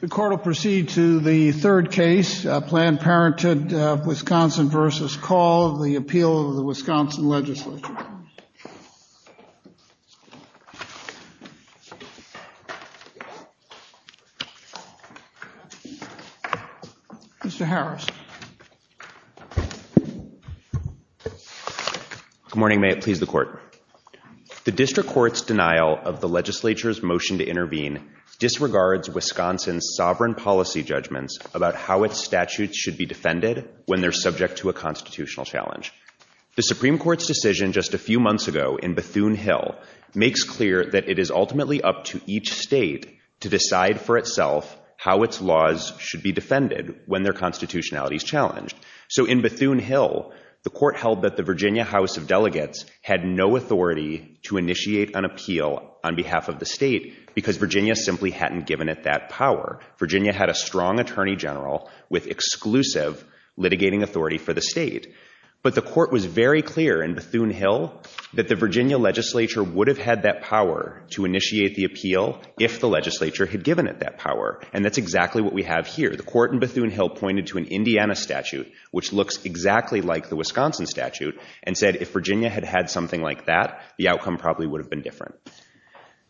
The court will proceed to the third case, Planned Parenthood, Wisconsin v. Kaul, the appeal of the Wisconsin Legislature. Mr. Harris. Good morning, may it please the court. The District Court's denial of the Legislature's motion to intervene disregards Wisconsin's sovereign policy judgments about how its statutes should be defended when they're subject to a constitutional challenge. The Supreme Court's decision just a few months ago in Bethune Hill makes clear that it is ultimately up to each state to decide for itself how its laws should be defended when their constitutionality is challenged. So in Bethune Hill, the court held that the Virginia House of Delegates had no authority to initiate an appeal on behalf of the state because Virginia simply hadn't given it that power. Virginia had a strong Attorney General with exclusive litigating authority for the state. But the court was very clear in Bethune Hill that the Virginia Legislature would have had that power to initiate the appeal if the Legislature had given it that power. And that's exactly what we have here. The court in Bethune Hill pointed to an Indiana statute, which looks exactly like the Wisconsin statute, and said if Virginia had had something like that, the outcome probably would have been different.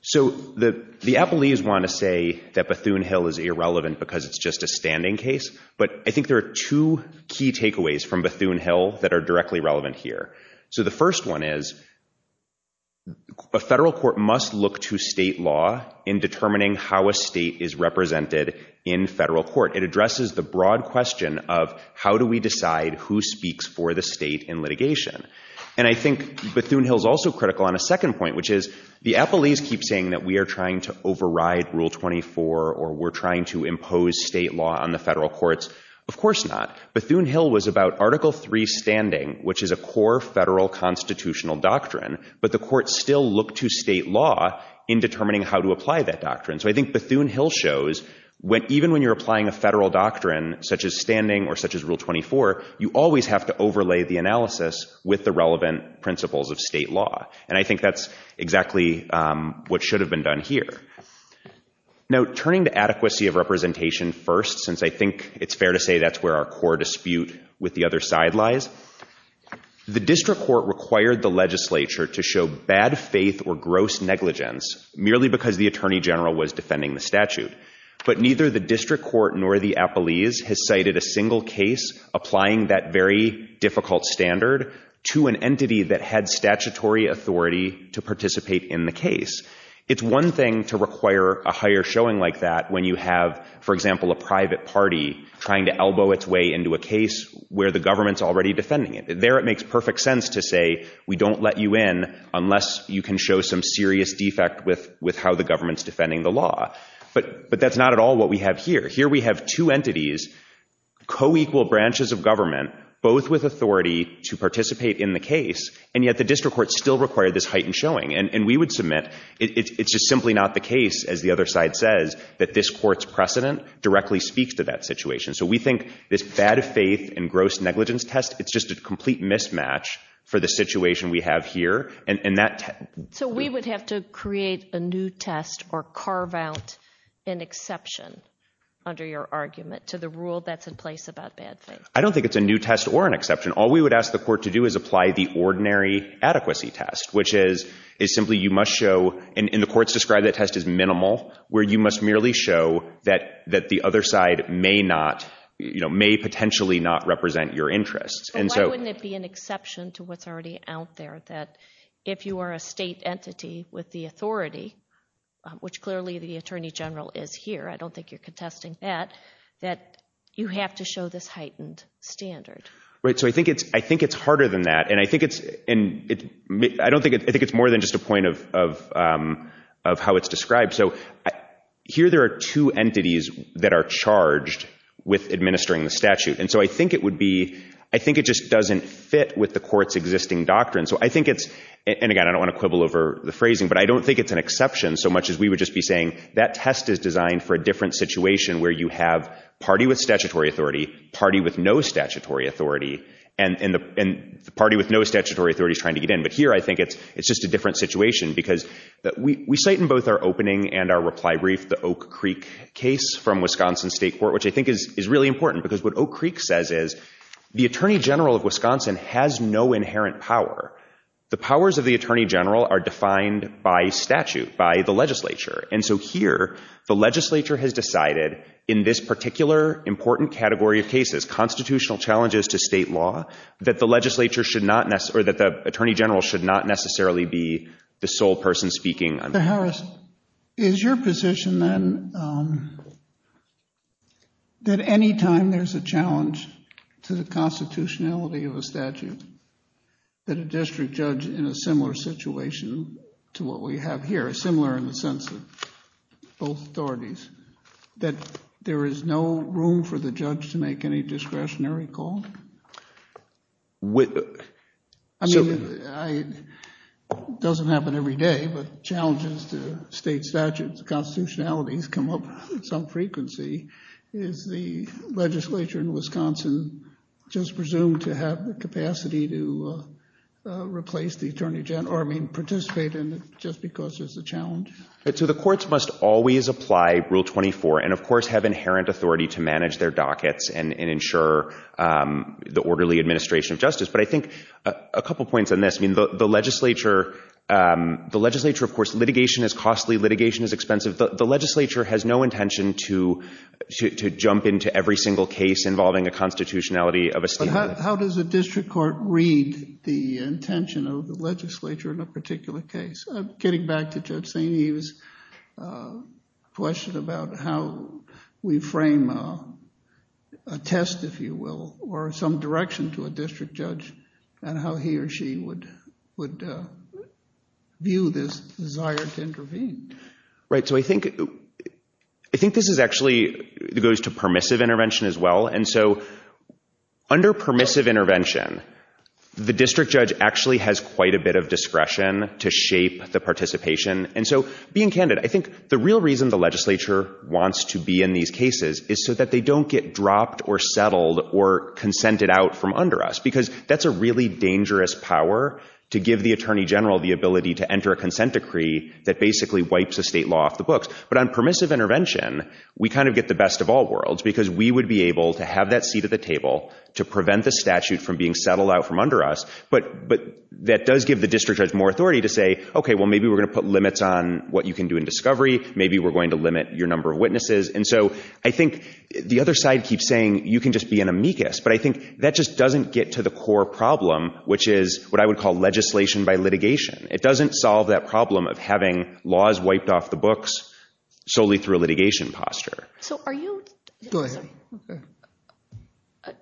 So the appellees want to say that Bethune Hill is irrelevant because it's just a standing case, but I think there are two key takeaways from Bethune Hill that are directly relevant here. So the first one is a federal court must look to state law in determining how a state is applied. It addresses the broad question of how do we decide who speaks for the state in litigation. And I think Bethune Hill is also critical on a second point, which is the appellees keep saying that we are trying to override Rule 24 or we're trying to impose state law on the federal courts. Of course not. Bethune Hill was about Article III standing, which is a core federal constitutional doctrine, but the court still looked to state law in determining how to apply that doctrine. So I think Bethune Hill shows even when you're applying a federal doctrine, such as standing or such as Rule 24, you always have to overlay the analysis with the relevant principles of state law. And I think that's exactly what should have been done here. Now, turning to adequacy of representation first, since I think it's fair to say that's where our core dispute with the other side lies, the district court required the legislature to show bad faith or gross negligence merely because the attorney general was defending the statute. But neither the district court nor the appellees has cited a single case applying that very difficult standard to an entity that had statutory authority to participate in the case. It's one thing to require a higher showing like that when you have, for example, a private party trying to elbow its way into a case where the government's already defending it. There it makes perfect sense to say, we don't let you in unless you can show some serious defect with how the government's defending the law. But that's not at all what we have here. Here we have two entities, co-equal branches of government, both with authority to participate in the case, and yet the district court still required this heightened showing. And we would submit it's just simply not the case, as the other side says, that this court's precedent directly speaks to that situation. So we think this bad faith and gross negligence test, it's just a complete mismatch for the situation we have here. And that... So we would have to create a new test or carve out an exception under your argument to the rule that's in place about bad faith? I don't think it's a new test or an exception. All we would ask the court to do is apply the ordinary adequacy test, which is simply you must show, and the court's described that test as minimal, where you must merely show that the other side may not, you know, may potentially not represent your interests. But why wouldn't it be an exception to what's already out there, that if you are a state entity with the authority, which clearly the Attorney General is here, I don't think you're contesting that, that you have to show this heightened standard? Right. So I think it's harder than that. And I think it's... And I don't think... I think it's more than just a point of how it's described. So here there are two entities that are charged with administering the statute. And so I think it would be... I think it just doesn't fit with the court's existing doctrine. So I think it's... And again, I don't want to quibble over the phrasing, but I don't think it's an exception so much as we would just be saying that test is designed for a different situation where you have party with statutory authority, party with no statutory authority, and the party with no statutory authority is trying to get in. But here I think it's just a different situation because we cite in both our opening and our reply brief the Oak Creek case from Wisconsin State Court, which I think is really important because what Oak Creek says is the Attorney General of Wisconsin has no inherent power. The powers of the Attorney General are defined by statute, by the legislature. And so here the legislature has decided in this particular important category of cases, constitutional challenges to state law, that the legislature should not necessarily... The Attorney General should not necessarily be the sole person speaking on... Mr. Harris, is your position then that any time there's a challenge to the constitutionality of a statute, that a district judge in a similar situation to what we have here, similar in the sense of both authorities, that there is no room for the judge to make any discretionary call? I mean, it doesn't happen every day, but challenges to state statutes, constitutionalities come up at some frequency. Is the legislature in Wisconsin just presumed to have the capacity to replace the Attorney General, I mean, participate in it just because there's a challenge? So the courts must always apply Rule 24 and, of course, have inherent authority to manage their dockets and ensure the orderly administration of justice. But I think a couple points on this. I mean, the legislature, of course, litigation is costly, litigation is expensive. The legislature has no intention to jump into every single case involving a constitutionality of a statute. But how does a district court read the intention of the legislature in a particular case? I'm getting back to Judge St. Eve's question about how we frame a test, if you will, or some direction to a district judge and how he or she would view this desire to intervene. Right. So I think this actually goes to permissive intervention as well. And so under permissive intervention, the district judge actually has quite a bit of the participation. And so being candid, I think the real reason the legislature wants to be in these cases is so that they don't get dropped or settled or consented out from under us, because that's a really dangerous power to give the Attorney General the ability to enter a consent decree that basically wipes the state law off the books. But on permissive intervention, we kind of get the best of all worlds because we would be able to have that seat at the table to prevent the statute from being settled out from under us. But that does give the district judge more authority to say, OK, well, maybe we're going to put limits on what you can do in discovery. Maybe we're going to limit your number of witnesses. And so I think the other side keeps saying you can just be an amicus. But I think that just doesn't get to the core problem, which is what I would call legislation by litigation. It doesn't solve that problem of having laws wiped off the books solely through a litigation posture. So are you— Go ahead. OK.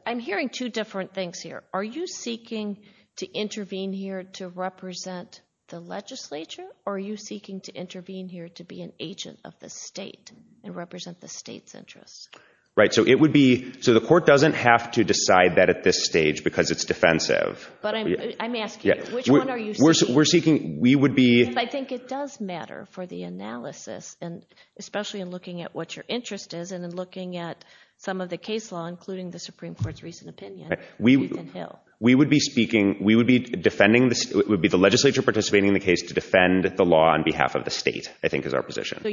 I'm hearing two different things here. Are you seeking to intervene here to represent the legislature? Or are you seeking to intervene here to be an agent of the state and represent the state's interests? Right. So it would be—so the court doesn't have to decide that at this stage because it's defensive. But I'm asking, which one are you seeking? We're seeking—we would be— I think it does matter for the analysis, and especially in looking at what your interest is and in looking at some of the case law, including the Supreme Court's recent opinion, Ethan Hill. We would be speaking—we would be defending—it would be the legislature participating in the case to defend the law on behalf of the state, I think, is our position. So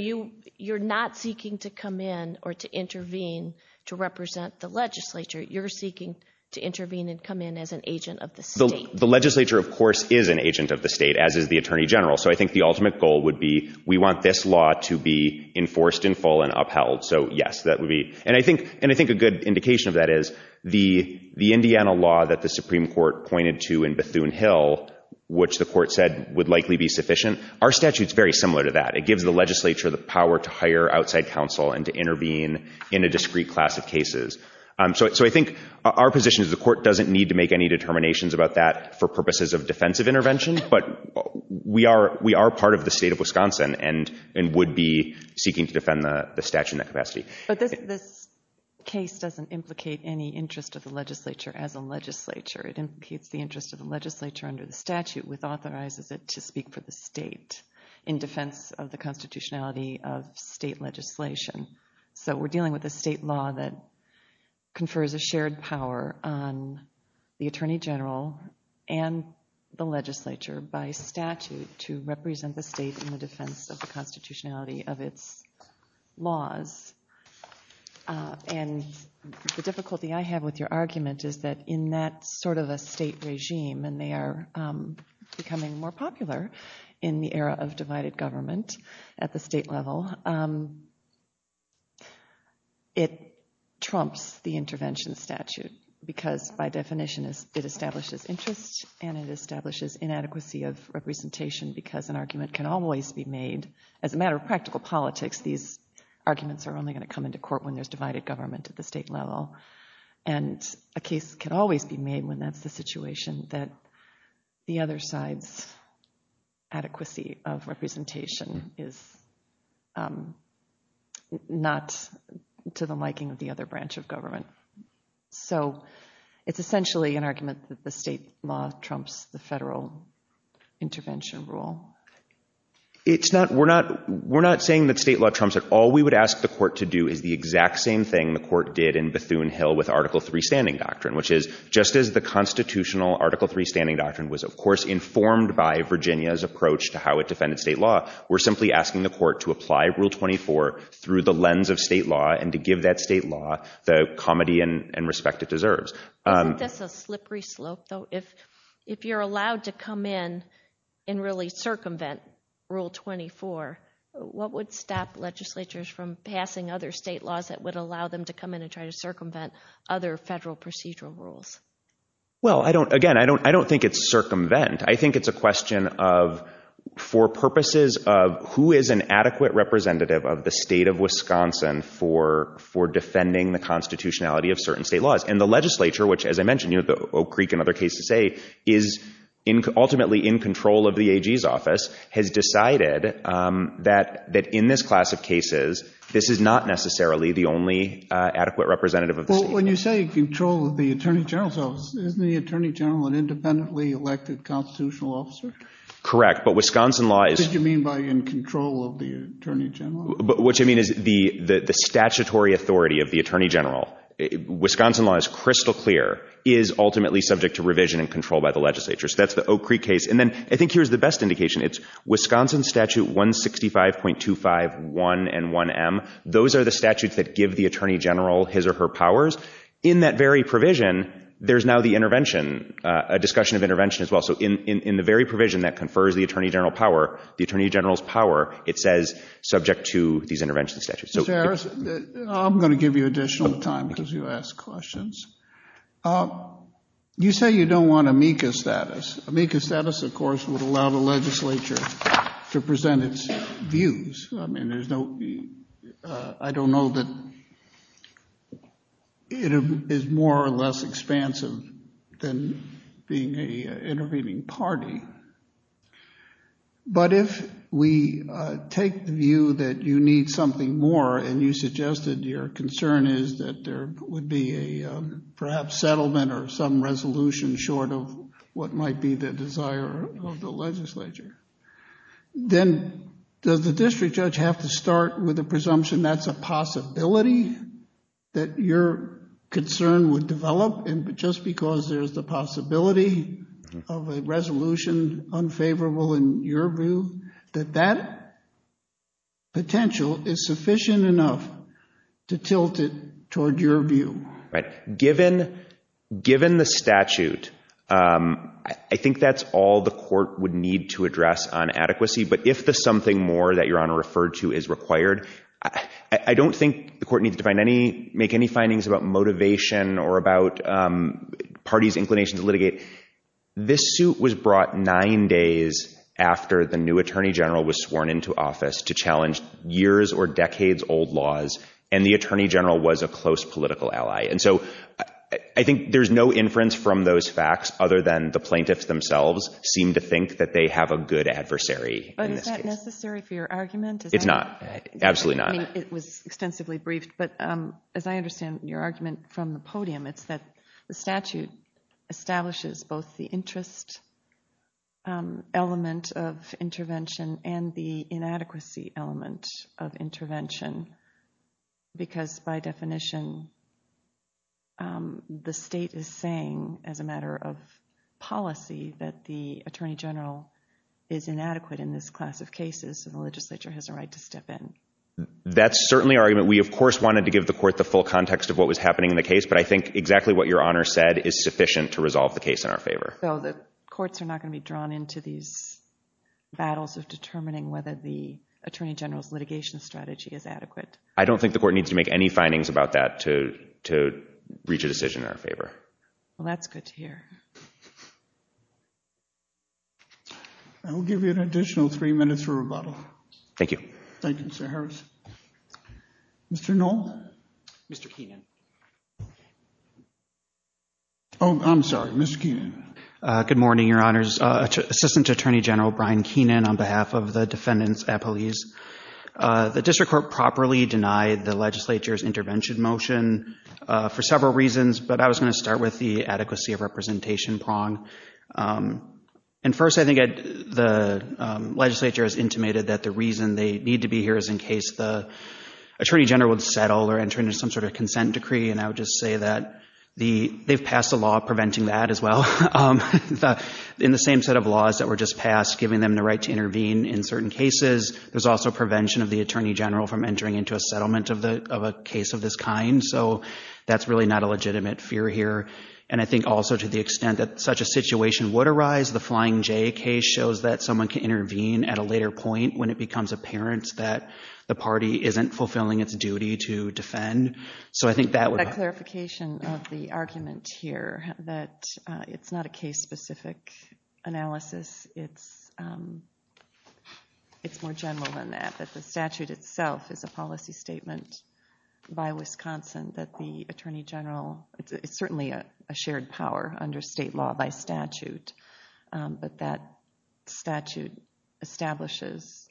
you're not seeking to come in or to intervene to represent the legislature. You're seeking to intervene and come in as an agent of the state. The legislature, of course, is an agent of the state, as is the Attorney General. So I think the ultimate goal would be we want this law to be enforced in full and upheld. So, yes, that would be—and I think a good indication of that is the Indiana law that the Supreme Court pointed to in Bethune Hill, which the court said would likely be sufficient. Our statute's very similar to that. It gives the legislature the power to hire outside counsel and to intervene in a discrete class of cases. So I think our position is the court doesn't need to make any determinations about that for purposes of defensive intervention, but we are part of the state of Wisconsin and would be seeking to defend the statute in that capacity. But this case doesn't implicate any interest of the legislature as a legislature. It implicates the interest of the legislature under the statute, which authorizes it to speak for the state in defense of the constitutionality of state legislation. So we're dealing with a state law that confers a shared power on the Attorney General and the legislature by statute to represent the state in the defense of the constitutionality of its laws. And the difficulty I have with your argument is that in that sort of a state regime—and they are becoming more popular in the era of divided government at the state level—it trumps the intervention statute because, by definition, it establishes interest and it establishes inadequacy of representation because an argument can always be made, as a matter of practical politics, these arguments are only going to come into court when there's divided government at the state level. And a case can always be made when that's the situation that the other side's adequacy of representation is not to the liking of the other branch of government. So it's essentially an argument that the state law trumps the federal intervention rule. We're not saying that state law trumps it. All we would ask the court to do is the exact same thing the court did in Bethune Hill with Article III Standing Doctrine, which is, just as the constitutional Article III Standing Doctrine was, of course, informed by Virginia's approach to how it defended state law, we're simply asking the court to apply Rule 24 through the lens of state law and to give that state law the comedy and respect it deserves. Isn't this a slippery slope, though? If you're allowed to come in and really circumvent Rule 24, what would stop legislatures from passing other state laws that would allow them to come in and try to circumvent other federal procedural rules? Well, again, I don't think it's circumvent. I think it's a question of, for purposes of who is an adequate representative of the state of Wisconsin for defending the constitutionality of certain state laws. And the legislature, which, as I mentioned, Oak Creek, another case to say, is ultimately in control of the AG's office, has decided that in this class of cases, this is not necessarily the only adequate representative of the state. But when you say in control of the Attorney General's office, isn't the Attorney General an independently elected constitutional officer? Correct, but Wisconsin law is— Did you mean by in control of the Attorney General's office? What I mean is the statutory authority of the Attorney General, Wisconsin law is crystal clear, is ultimately subject to revision and control by the legislature. So that's the Oak Creek case. And then I think here's the best indication. It's Wisconsin Statute 165.251 and 1M. Those are the statutes that give the Attorney General his or her powers. In that very provision, there's now the intervention, a discussion of intervention as well. So in the very provision that confers the Attorney General power, the Attorney General's office is subject to these intervention statutes. Mr. Harris, I'm going to give you additional time because you asked questions. You say you don't want amicus status. Amicus status, of course, would allow the legislature to present its views. I mean, there's no—I don't know that it is more or less expansive than being an intervening party. But if we take the view that you need something more and you suggested your concern is that there would be a perhaps settlement or some resolution short of what might be the desire of the legislature, then does the district judge have to start with the presumption that's a possibility that your concern would develop? And just because there's the possibility of a resolution unfavorable in your view, that that potential is sufficient enough to tilt it toward your view? Right. Given the statute, I think that's all the court would need to address on adequacy. But if the something more that Your Honor referred to is required, I don't think the parties' inclination to litigate—this suit was brought nine days after the new attorney general was sworn into office to challenge years or decades old laws, and the attorney general was a close political ally. And so I think there's no inference from those facts other than the plaintiffs themselves seem to think that they have a good adversary in this case. But is that necessary for your argument? It's not. Absolutely not. It was extensively briefed, but as I understand your argument from the podium, it's that the statute establishes both the interest element of intervention and the inadequacy element of intervention, because by definition, the state is saying as a matter of policy that the attorney general is inadequate in this class of cases, so the legislature has a right to step in. That's certainly our argument. We, of course, wanted to give the court the full context of what was happening in the case, but I think exactly what Your Honor said is sufficient to resolve the case in our favor. So the courts are not going to be drawn into these battles of determining whether the attorney general's litigation strategy is adequate? I don't think the court needs to make any findings about that to reach a decision in our favor. Well, that's good to hear. I will give you an additional three minutes for rebuttal. Thank you. Thank you, Mr. Harris. Mr. Knoll? Mr. Keenan. Oh, I'm sorry. Mr. Keenan. Good morning, Your Honors. Assistant Attorney General Brian Keenan on behalf of the defendants at police. The district court properly denied the legislature's intervention motion for several reasons, but I was going to start with the adequacy of representation prong. And first, I think the legislature is intimated that the reason they need to be here is in case the attorney general would settle or enter into some sort of consent decree. And I would just say that they've passed a law preventing that as well in the same set of laws that were just passed, giving them the right to intervene in certain cases. There's also prevention of the attorney general from entering into a settlement of a case of this kind. So that's really not a legitimate fear here. And I think also to the extent that such a situation would arise, the Flying J case shows that someone can intervene at a later point when it becomes apparent that the party isn't fulfilling its duty to defend. So I think that would... A clarification of the argument here that it's not a case-specific analysis. It's more general than that, that the statute itself is a policy statement by Wisconsin that the attorney general... It's certainly a shared power under state law by statute, but that statute establishes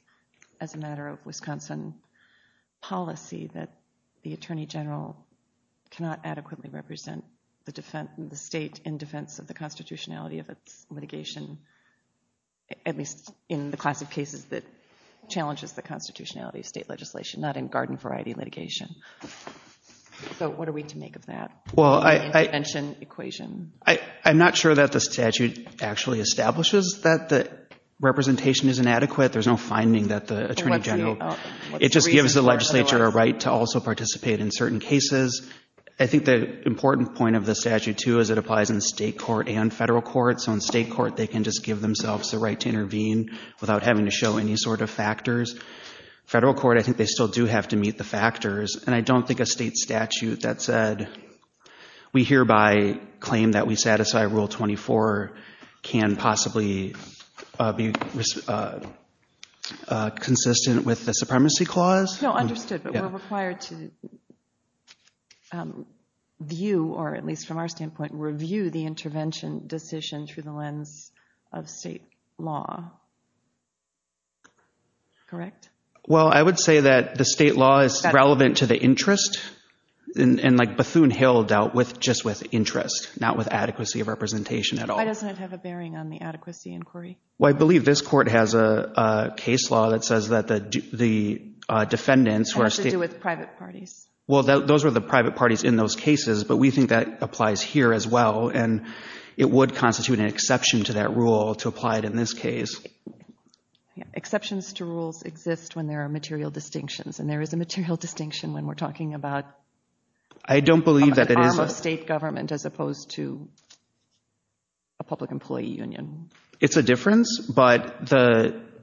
as a matter of Wisconsin policy that the attorney general cannot adequately represent the state in defense of the constitutionality of its litigation, at least in the class of cases that challenges the constitutionality of state legislation, not in garden variety litigation. So what are we to make of that intervention equation? Well, I'm not sure that the statute actually establishes that the representation is inadequate. There's no finding that the attorney general... It just gives the legislature a right to also participate in certain cases. I think the important point of the statute, too, is it applies in state court and federal court. So in state court, they can just give themselves the right to intervene without having to show any sort of factors. Federal court, I think they still do have to meet the factors. And I don't think a state statute that said, we hereby claim that we satisfy Rule 24 can possibly be consistent with the supremacy clause. No, understood. But we're required to view, or at least from our standpoint, review the intervention decisions through the lens of state law. Correct? Well, I would say that the state law is relevant to the interest. And Bethune-Hill dealt just with interest, not with adequacy of representation at all. Why doesn't it have a bearing on the adequacy inquiry? Well, I believe this court has a case law that says that the defendants... Has to do with private parties. Well, those are the private parties in those cases. But we think that applies here as well. And it would constitute an exception to that rule to apply it in this case. Exceptions to rules exist when there are material distinctions. And there is a material distinction when we're talking about... I don't believe that it is... An arm of state government as opposed to a public employee union. It's a difference. But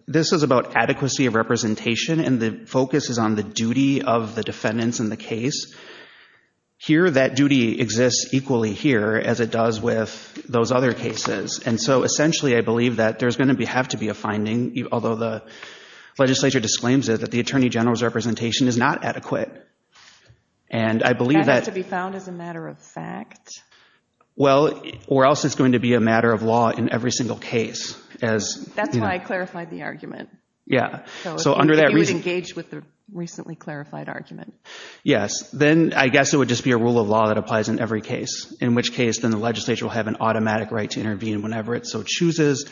this is about adequacy of representation. And the focus is on the duty of the defendants in the case. Here, that duty exists equally here as it does with those other cases. And so, essentially, I believe that there's going to have to be a finding, although the legislature disclaims it, that the attorney general's representation is not adequate. And I believe that... That has to be found as a matter of fact. Well, or else it's going to be a matter of law in every single case. That's why I clarified the argument. Yeah. So under that reason... You would engage with the recently clarified argument. Yes. Then I guess it would just be a rule of law that applies in every case, in which case then the legislature will have an automatic right to intervene whenever it so chooses.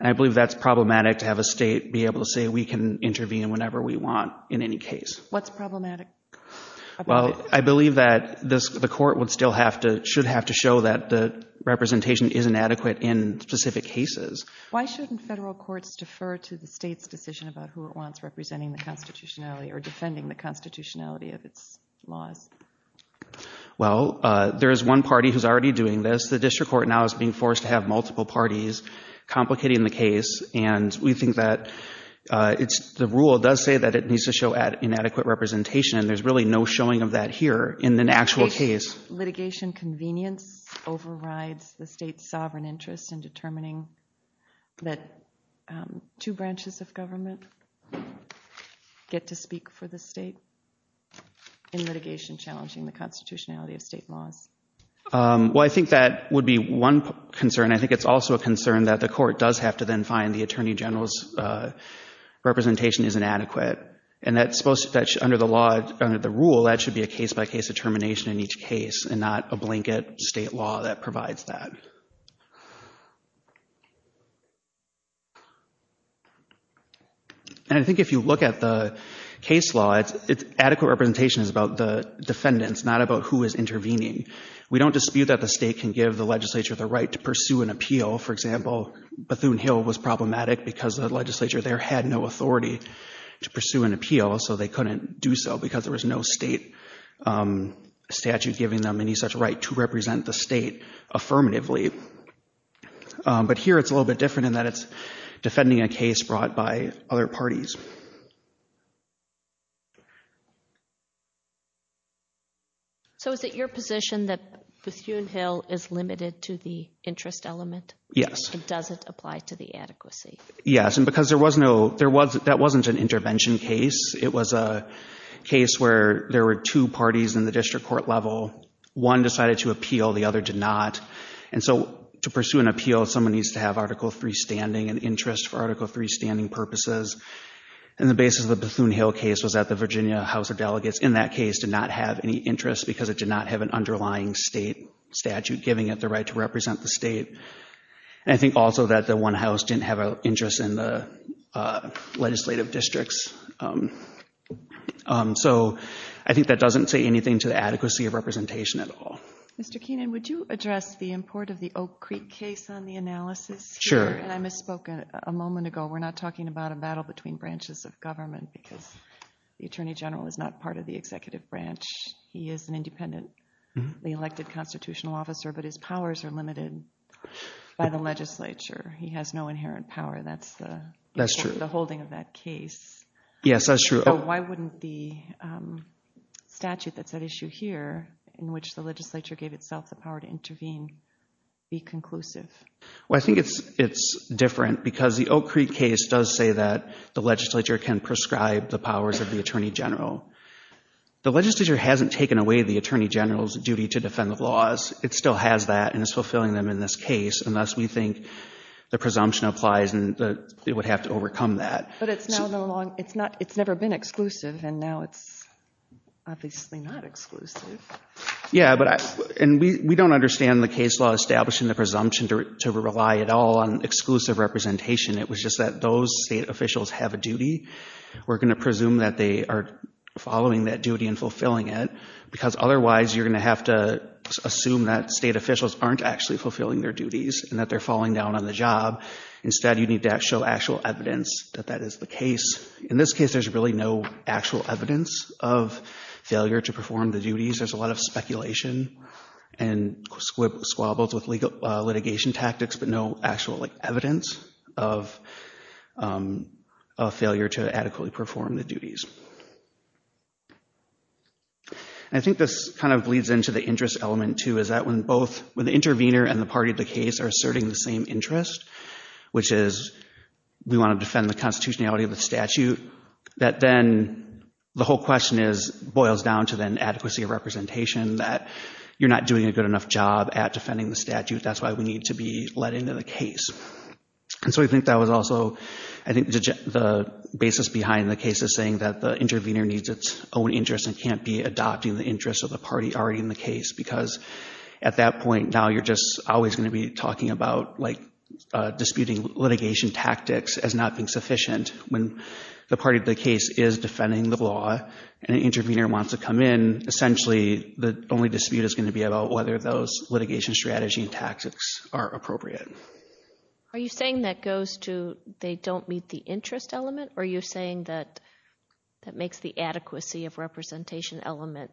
And I believe that's problematic to have a state be able to say we can intervene whenever we want in any case. What's problematic about it? Well, I believe that the court would still have to... Should have to show that the representation isn't adequate in specific cases. Why shouldn't federal courts defer to the state's decision about who it wants representing the constitutionality or defending the constitutionality of its laws? Well, there is one party who's already doing this. The district court now is being forced to have multiple parties complicating the case, and we think that it's... The rule does say that it needs to show inadequate representation, and there's really no showing of that here in an actual case. Do you think litigation convenience overrides the state's sovereign interest in determining that two branches of government get to speak for the state in litigation challenging the constitutionality of state laws? Well, I think that would be one concern. I think it's also a concern that the court does have to then find the attorney general's representation is inadequate, and that's supposed to... Under the law, under the rule, that should be a case-by-case determination in each case and not a blanket state law that provides that. And I think if you look at the case law, adequate representation is about the defendants, not about who is intervening. We don't dispute that the state can give the legislature the right to pursue an appeal. For example, Bethune-Hill was problematic because the legislature there had no authority to pursue an appeal, so they couldn't do so because there was no state statute giving them any such right to represent the state affirmatively. But here it's a little bit different in that it's defending a case brought by other parties. So is it your position that Bethune-Hill is limited to the interest element? Yes. It doesn't apply to the adequacy? Yes, and because that wasn't an intervention case. It was a case where there were two parties in the district court level. One decided to appeal, the other did not. And so to pursue an appeal, someone needs to have Article III standing and interest for Article III standing purposes. And the basis of the Bethune-Hill case was that the Virginia House of Delegates in that case did not have any interest because it did not have an underlying state statute giving it the right to represent the state. I think also that the one house didn't have an interest in the legislative districts. So I think that doesn't say anything to the adequacy of representation at all. Mr. Keenan, would you address the import of the Oak Creek case on the analysis? Sure. And I misspoke a moment ago. We're not talking about a battle between branches of government because the Attorney General is not part of the executive branch. He is an independently elected constitutional officer, but his powers are limited by the legislature. He has no inherent power. That's the holding of that case. Yes, that's true. So why wouldn't the statute that's at issue here, in which the legislature gave itself the power to intervene, be conclusive? Well, I think it's different because the Oak Creek case does say that the legislature can prescribe the powers of the Attorney General. The legislature hasn't taken away the Attorney General's duty to defend the laws. It still has that and is fulfilling them in this case, unless we think the presumption applies and it would have to overcome that. But it's never been exclusive, and now it's obviously not exclusive. Yeah, and we don't understand the case law establishing the presumption to rely at all on exclusive representation. It was just that those state officials have a duty. We're going to presume that they are following that duty and fulfilling it because otherwise you're going to have to assume that state officials aren't actually fulfilling their duties and that they're falling down on the job. Instead, you need to show actual evidence that that is the case. In this case, there's really no actual evidence of failure to perform the duties. There's a lot of speculation and squabbles with litigation tactics, And I think this kind of bleeds into the interest element, too, is that when both the intervener and the party of the case are asserting the same interest, which is we want to defend the constitutionality of the statute, that then the whole question boils down to then adequacy of representation, that you're not doing a good enough job at defending the statute. That's why we need to be let into the case. And so we think that was also, I think, the basis behind the case is saying that the intervener needs its own interest and can't be adopting the interest of the party already in the case because at that point now you're just always going to be talking about like disputing litigation tactics as not being sufficient. When the party of the case is defending the law and an intervener wants to come in, essentially the only dispute is going to be about whether those litigation strategy and tactics are appropriate. Are you saying that goes to they don't meet the interest element? Or are you saying that that makes the adequacy of representation element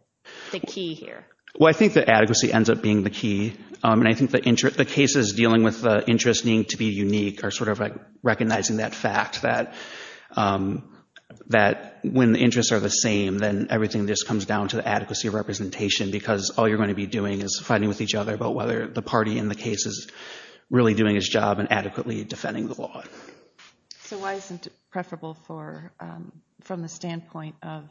the key here? Well, I think the adequacy ends up being the key, and I think the cases dealing with the interest needing to be unique are sort of like recognizing that fact that when the interests are the same, then everything just comes down to the adequacy of representation because all you're going to be doing is fighting with each other about whether the party in the case is really doing its job and adequately defending the law. So why isn't it preferable from the standpoint of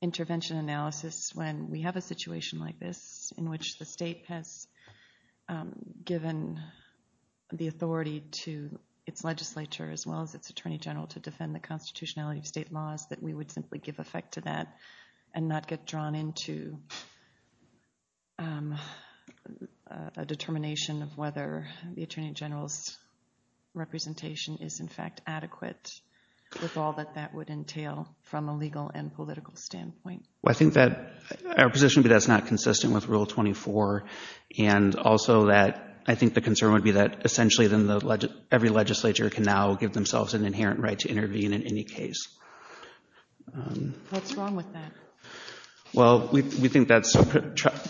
intervention analysis when we have a situation like this in which the state has given the authority to its legislature as well as its attorney general to defend the constitutionality of state laws that we would simply give effect to that and not get drawn into a determination of whether the attorney general's representation is in fact adequate with all that that would entail from a legal and political standpoint? Well, I think that our position would be that's not consistent with Rule 24, and also that I think the concern would be that essentially every legislature can now give themselves an inherent right to intervene in any case. What's wrong with that? Well, we think that's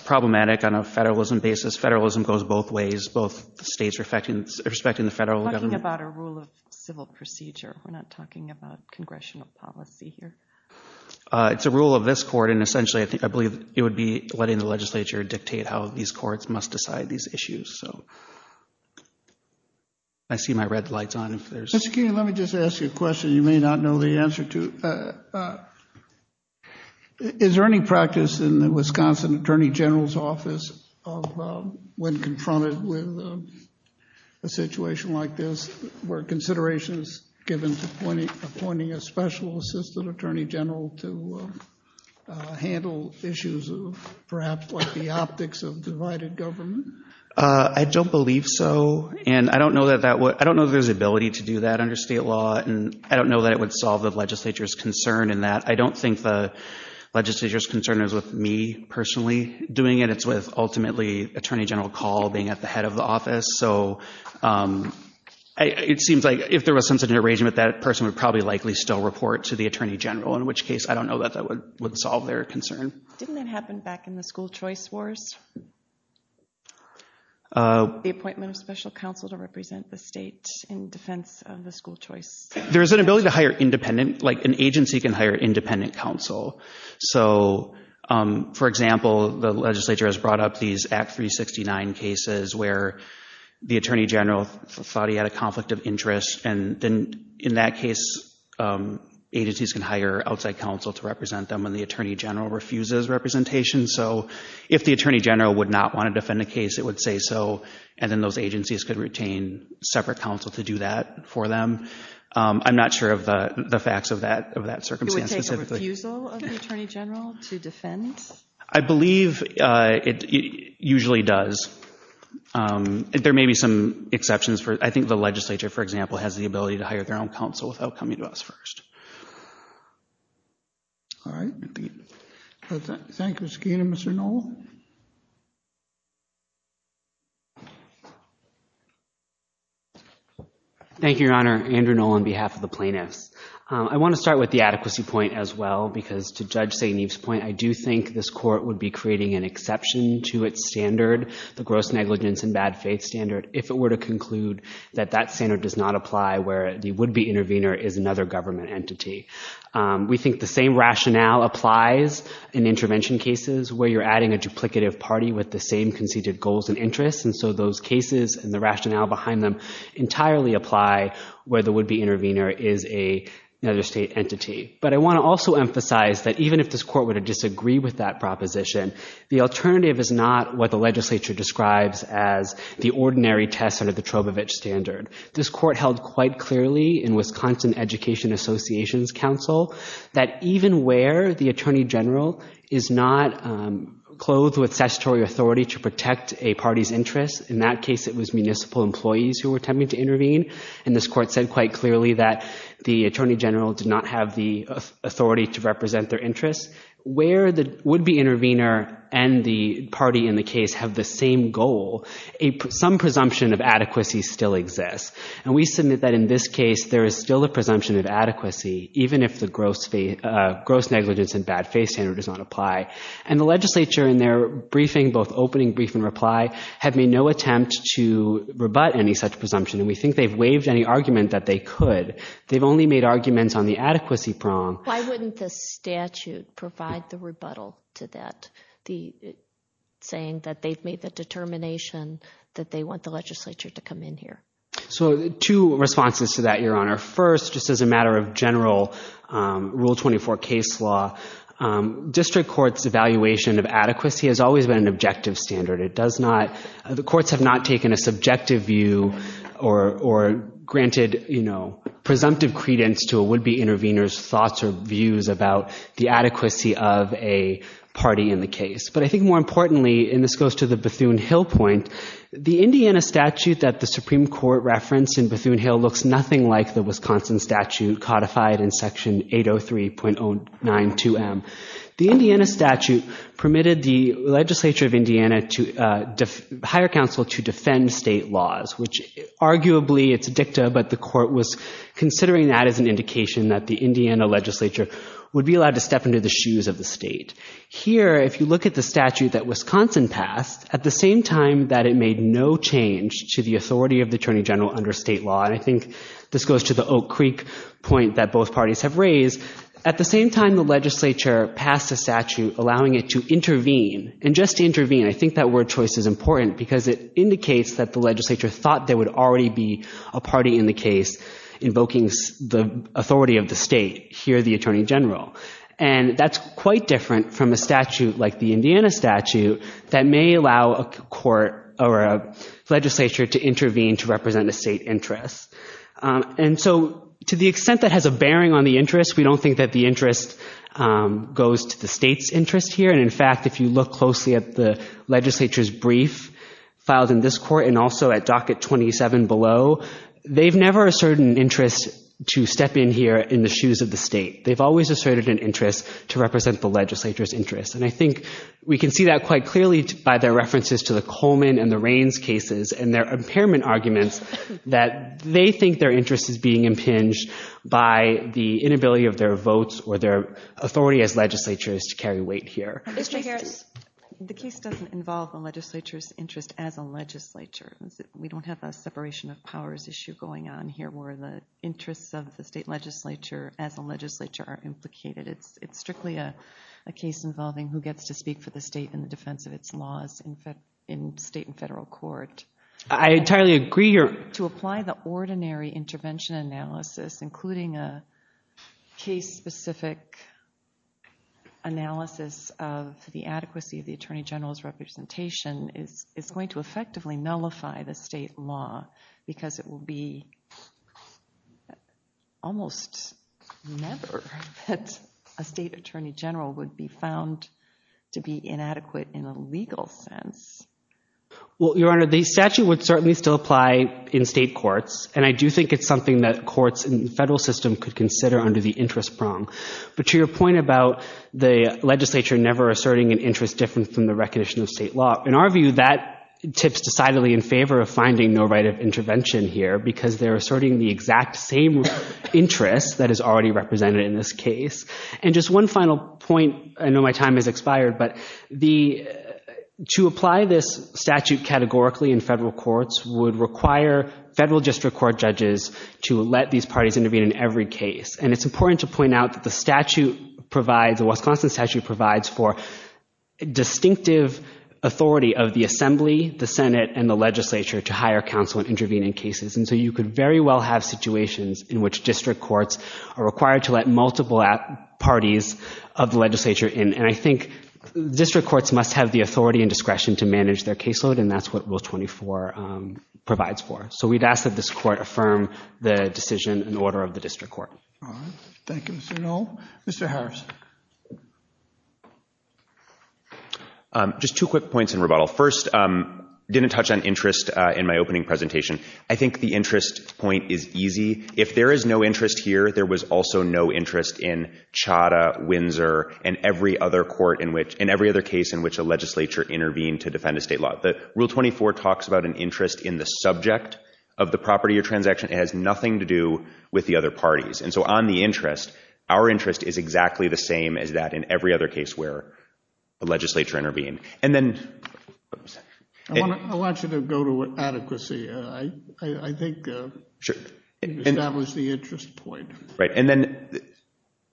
problematic on a federalism basis. Federalism goes both ways. Both states are respecting the federal government. We're talking about a rule of civil procedure. We're not talking about congressional policy here. It's a rule of this court, and essentially I believe it would be letting the legislature dictate how these courts must decide these issues. I see my red lights on. Mr. King, let me just ask you a question. You may not know the answer to. Is there any practice in the Wisconsin Attorney General's Office when confronted with a situation like this where consideration is given to appointing a special assistant attorney general to handle issues perhaps like the optics of divided government? I don't believe so, and I don't know that there's ability to do that under state law, and I don't know that it would solve the legislature's concern in that. I don't think the legislature's concern is with me personally doing it. It's with ultimately Attorney General Call being at the head of the office, so it seems like if there was some sort of arrangement, that person would probably likely still report to the attorney general, in which case I don't know that that would solve their concern. Didn't that happen back in the school choice wars? The appointment of special counsel to represent the state in defense of the school choice. There is an ability to hire independent, like an agency can hire independent counsel. So, for example, the legislature has brought up these Act 369 cases where the attorney general thought he had a conflict of interest, and then in that case, agencies can hire outside counsel to represent them when the attorney general refuses representation. So, if the attorney general would not want to defend a case, it would say so, and then those agencies could retain separate counsel to do that for them. I'm not sure of the facts of that circumstance specifically. It would take a refusal of the attorney general to defend? I believe it usually does. There may be some exceptions. I think the legislature, for example, has the ability to hire their own counsel without coming to us first. All right. Thank you, Mr. Keenan. Mr. Knoll? Thank you, Your Honor. Andrew Knoll on behalf of the plaintiffs. I want to start with the adequacy point as well, because to Judge St. Eve's point, I do think this court would be creating an exception to its standard, the gross negligence and bad faith standard, if it were to conclude that that standard does not apply where the would-be intervener is another government entity. We think the same rationale applies in intervention cases where you're adding a duplicative party with the same conceded goals and interests, and so those cases and the rationale behind them entirely apply where the would-be intervener is another state entity. But I want to also emphasize that even if this court were to disagree with that proposition, the alternative is not what the legislature describes as the ordinary test under the Trobovich standard. This court held quite clearly in Wisconsin Education Associations Council that even where the attorney general is not clothed with statutory authority to protect a party's interests, in that case it was municipal employees who were attempting to intervene, and this court said quite clearly that the attorney general did not have the authority to represent their interests, where the would-be intervener and the party in the case have the same goal, some presumption of adequacy still exists. And we submit that in this case there is still a presumption of adequacy even if the gross negligence and bad faith standard does not apply. And the legislature in their briefing, both opening brief and reply, have made no attempt to rebut any such presumption, and we think they've waived any argument that they could. They've only made arguments on the adequacy prong. Why wouldn't the statute provide the rebuttal to that, saying that they've made the determination that they want the legislature to come in here? So two responses to that, Your Honor. First, just as a matter of general Rule 24 case law, district courts' evaluation of adequacy has always been an objective standard. The courts have not taken a subjective view or granted presumptive credence to a would-be intervener's thoughts or views about the adequacy of a party in the case. But I think more importantly, and this goes to the Bethune-Hill point, the Indiana statute that the Supreme Court referenced in Bethune-Hill looks nothing like the Wisconsin statute codified in Section 803.092M. The Indiana statute permitted the legislature of Indiana to hire counsel to defend state laws, which arguably it's a dicta, but the court was considering that as an indication that the Indiana legislature would be allowed to step into the shoes of the state. Here, if you look at the statute that Wisconsin passed, at the same time that it made no change to the authority of the attorney general under state law, and I think this goes to the Oak Creek point that both parties have raised, at the same time the legislature passed a statute allowing it to intervene, and just intervene, I think that word choice is important because it indicates that the legislature thought there would already be a party in the case invoking the authority of the state. Here, the attorney general. And that's quite different from a statute like the Indiana statute that may allow a court or a legislature to intervene to represent a state interest. And so to the extent that has a bearing on the interest, we don't think that the interest goes to the state's interest here. And, in fact, if you look closely at the legislature's brief filed in this court and also at Docket 27 below, they've never asserted an interest to step in here in the shoes of the state. They've always asserted an interest to represent the legislature's interest. And I think we can see that quite clearly by their references to the Coleman and the Raines cases and their impairment arguments that they think their interest is being impinged by the inability of their votes or their authority as legislatures to carry weight here. Mr. Harris, the case doesn't involve the legislature's interest as a legislature. We don't have a separation of powers issue going on here where the interests of the state legislature as a legislature are implicated. It's strictly a case involving who gets to speak for the state in the defense of its laws in state and federal court. I entirely agree here. To apply the ordinary intervention analysis, including a case-specific analysis of the adequacy of the attorney general's representation, is going to effectively nullify the state law because it will be almost never that a state attorney general would be found to be inadequate in a legal sense. Well, Your Honor, the statute would certainly still apply in state courts, and I do think it's something that courts in the federal system could consider under the interest prong. But to your point about the legislature never asserting an interest is different from the recognition of state law. In our view, that tips decidedly in favor of finding no right of intervention here because they're asserting the exact same interest that is already represented in this case. And just one final point. I know my time has expired, but to apply this statute categorically in federal courts would require federal district court judges to let these parties intervene in every case. And it's important to point out that the statute provides, the Wisconsin statute provides for distinctive authority of the Assembly, the Senate, and the legislature to hire counsel and intervene in cases. And so you could very well have situations in which district courts are required to let multiple parties of the legislature in. And I think district courts must have the authority and discretion to manage their caseload, and that's what Rule 24 provides for. So we'd ask that this court affirm the decision in order of the district court. All right. Thank you, Mr. Noll. Mr. Harris. Just two quick points in rebuttal. First, didn't touch on interest in my opening presentation. I think the interest point is easy. If there is no interest here, there was also no interest in Chadha, Windsor, and every other court in which, and every other case in which a legislature intervened to defend a state law. But Rule 24 talks about an interest in the subject of the property or transaction. It has nothing to do with the other parties. And so on the interest, our interest is exactly the same as that in every other case where a legislature intervened. And then — I want you to go to adequacy. I think you've established the interest point. Right. And then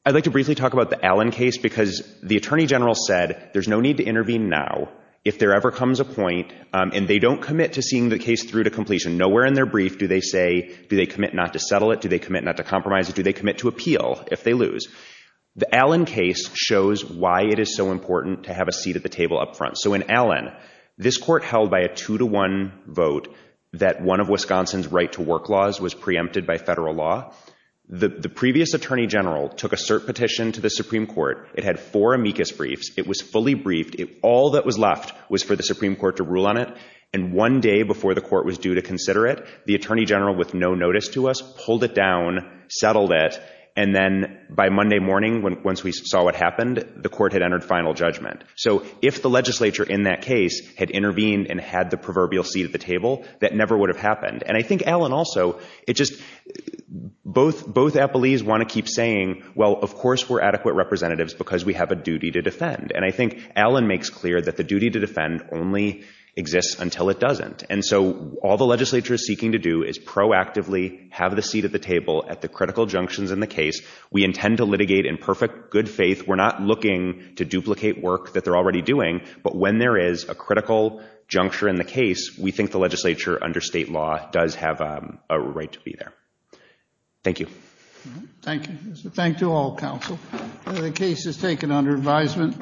I'd like to briefly talk about the Allen case, because the Attorney General said there's no need to intervene now if there ever comes a point, and they don't commit to seeing the case through to completion. Nowhere in their brief do they say, do they commit not to settle it, do they commit not to compromise it, do they commit to appeal if they lose. The Allen case shows why it is so important to have a seat at the table up front. So in Allen, this court held by a two-to-one vote that one of Wisconsin's right-to-work laws was preempted by federal law. The previous Attorney General took a cert petition to the Supreme Court. It had four amicus briefs. It was fully briefed. All that was left was for the Supreme Court to rule on it. And one day before the court was due to consider it, the Attorney General, with no notice to us, pulled it down, settled it, and then by Monday morning, once we saw what happened, the court had entered final judgment. So if the legislature in that case had intervened and had the proverbial seat at the table, that never would have happened. And I think Allen also, it just, both appellees want to keep saying, well, of course we're adequate representatives because we have a duty to defend. And I think Allen makes clear that the duty to defend only exists until it doesn't. And so all the legislature is seeking to do is proactively have the seat at the table at the critical junctions in the case. We intend to litigate in perfect good faith. We're not looking to duplicate work that they're already doing, but when there is a critical juncture in the case, we think the legislature under state law does have a right to be there. Thank you. Thank you. Thank you all, counsel. The case is taken under advisement.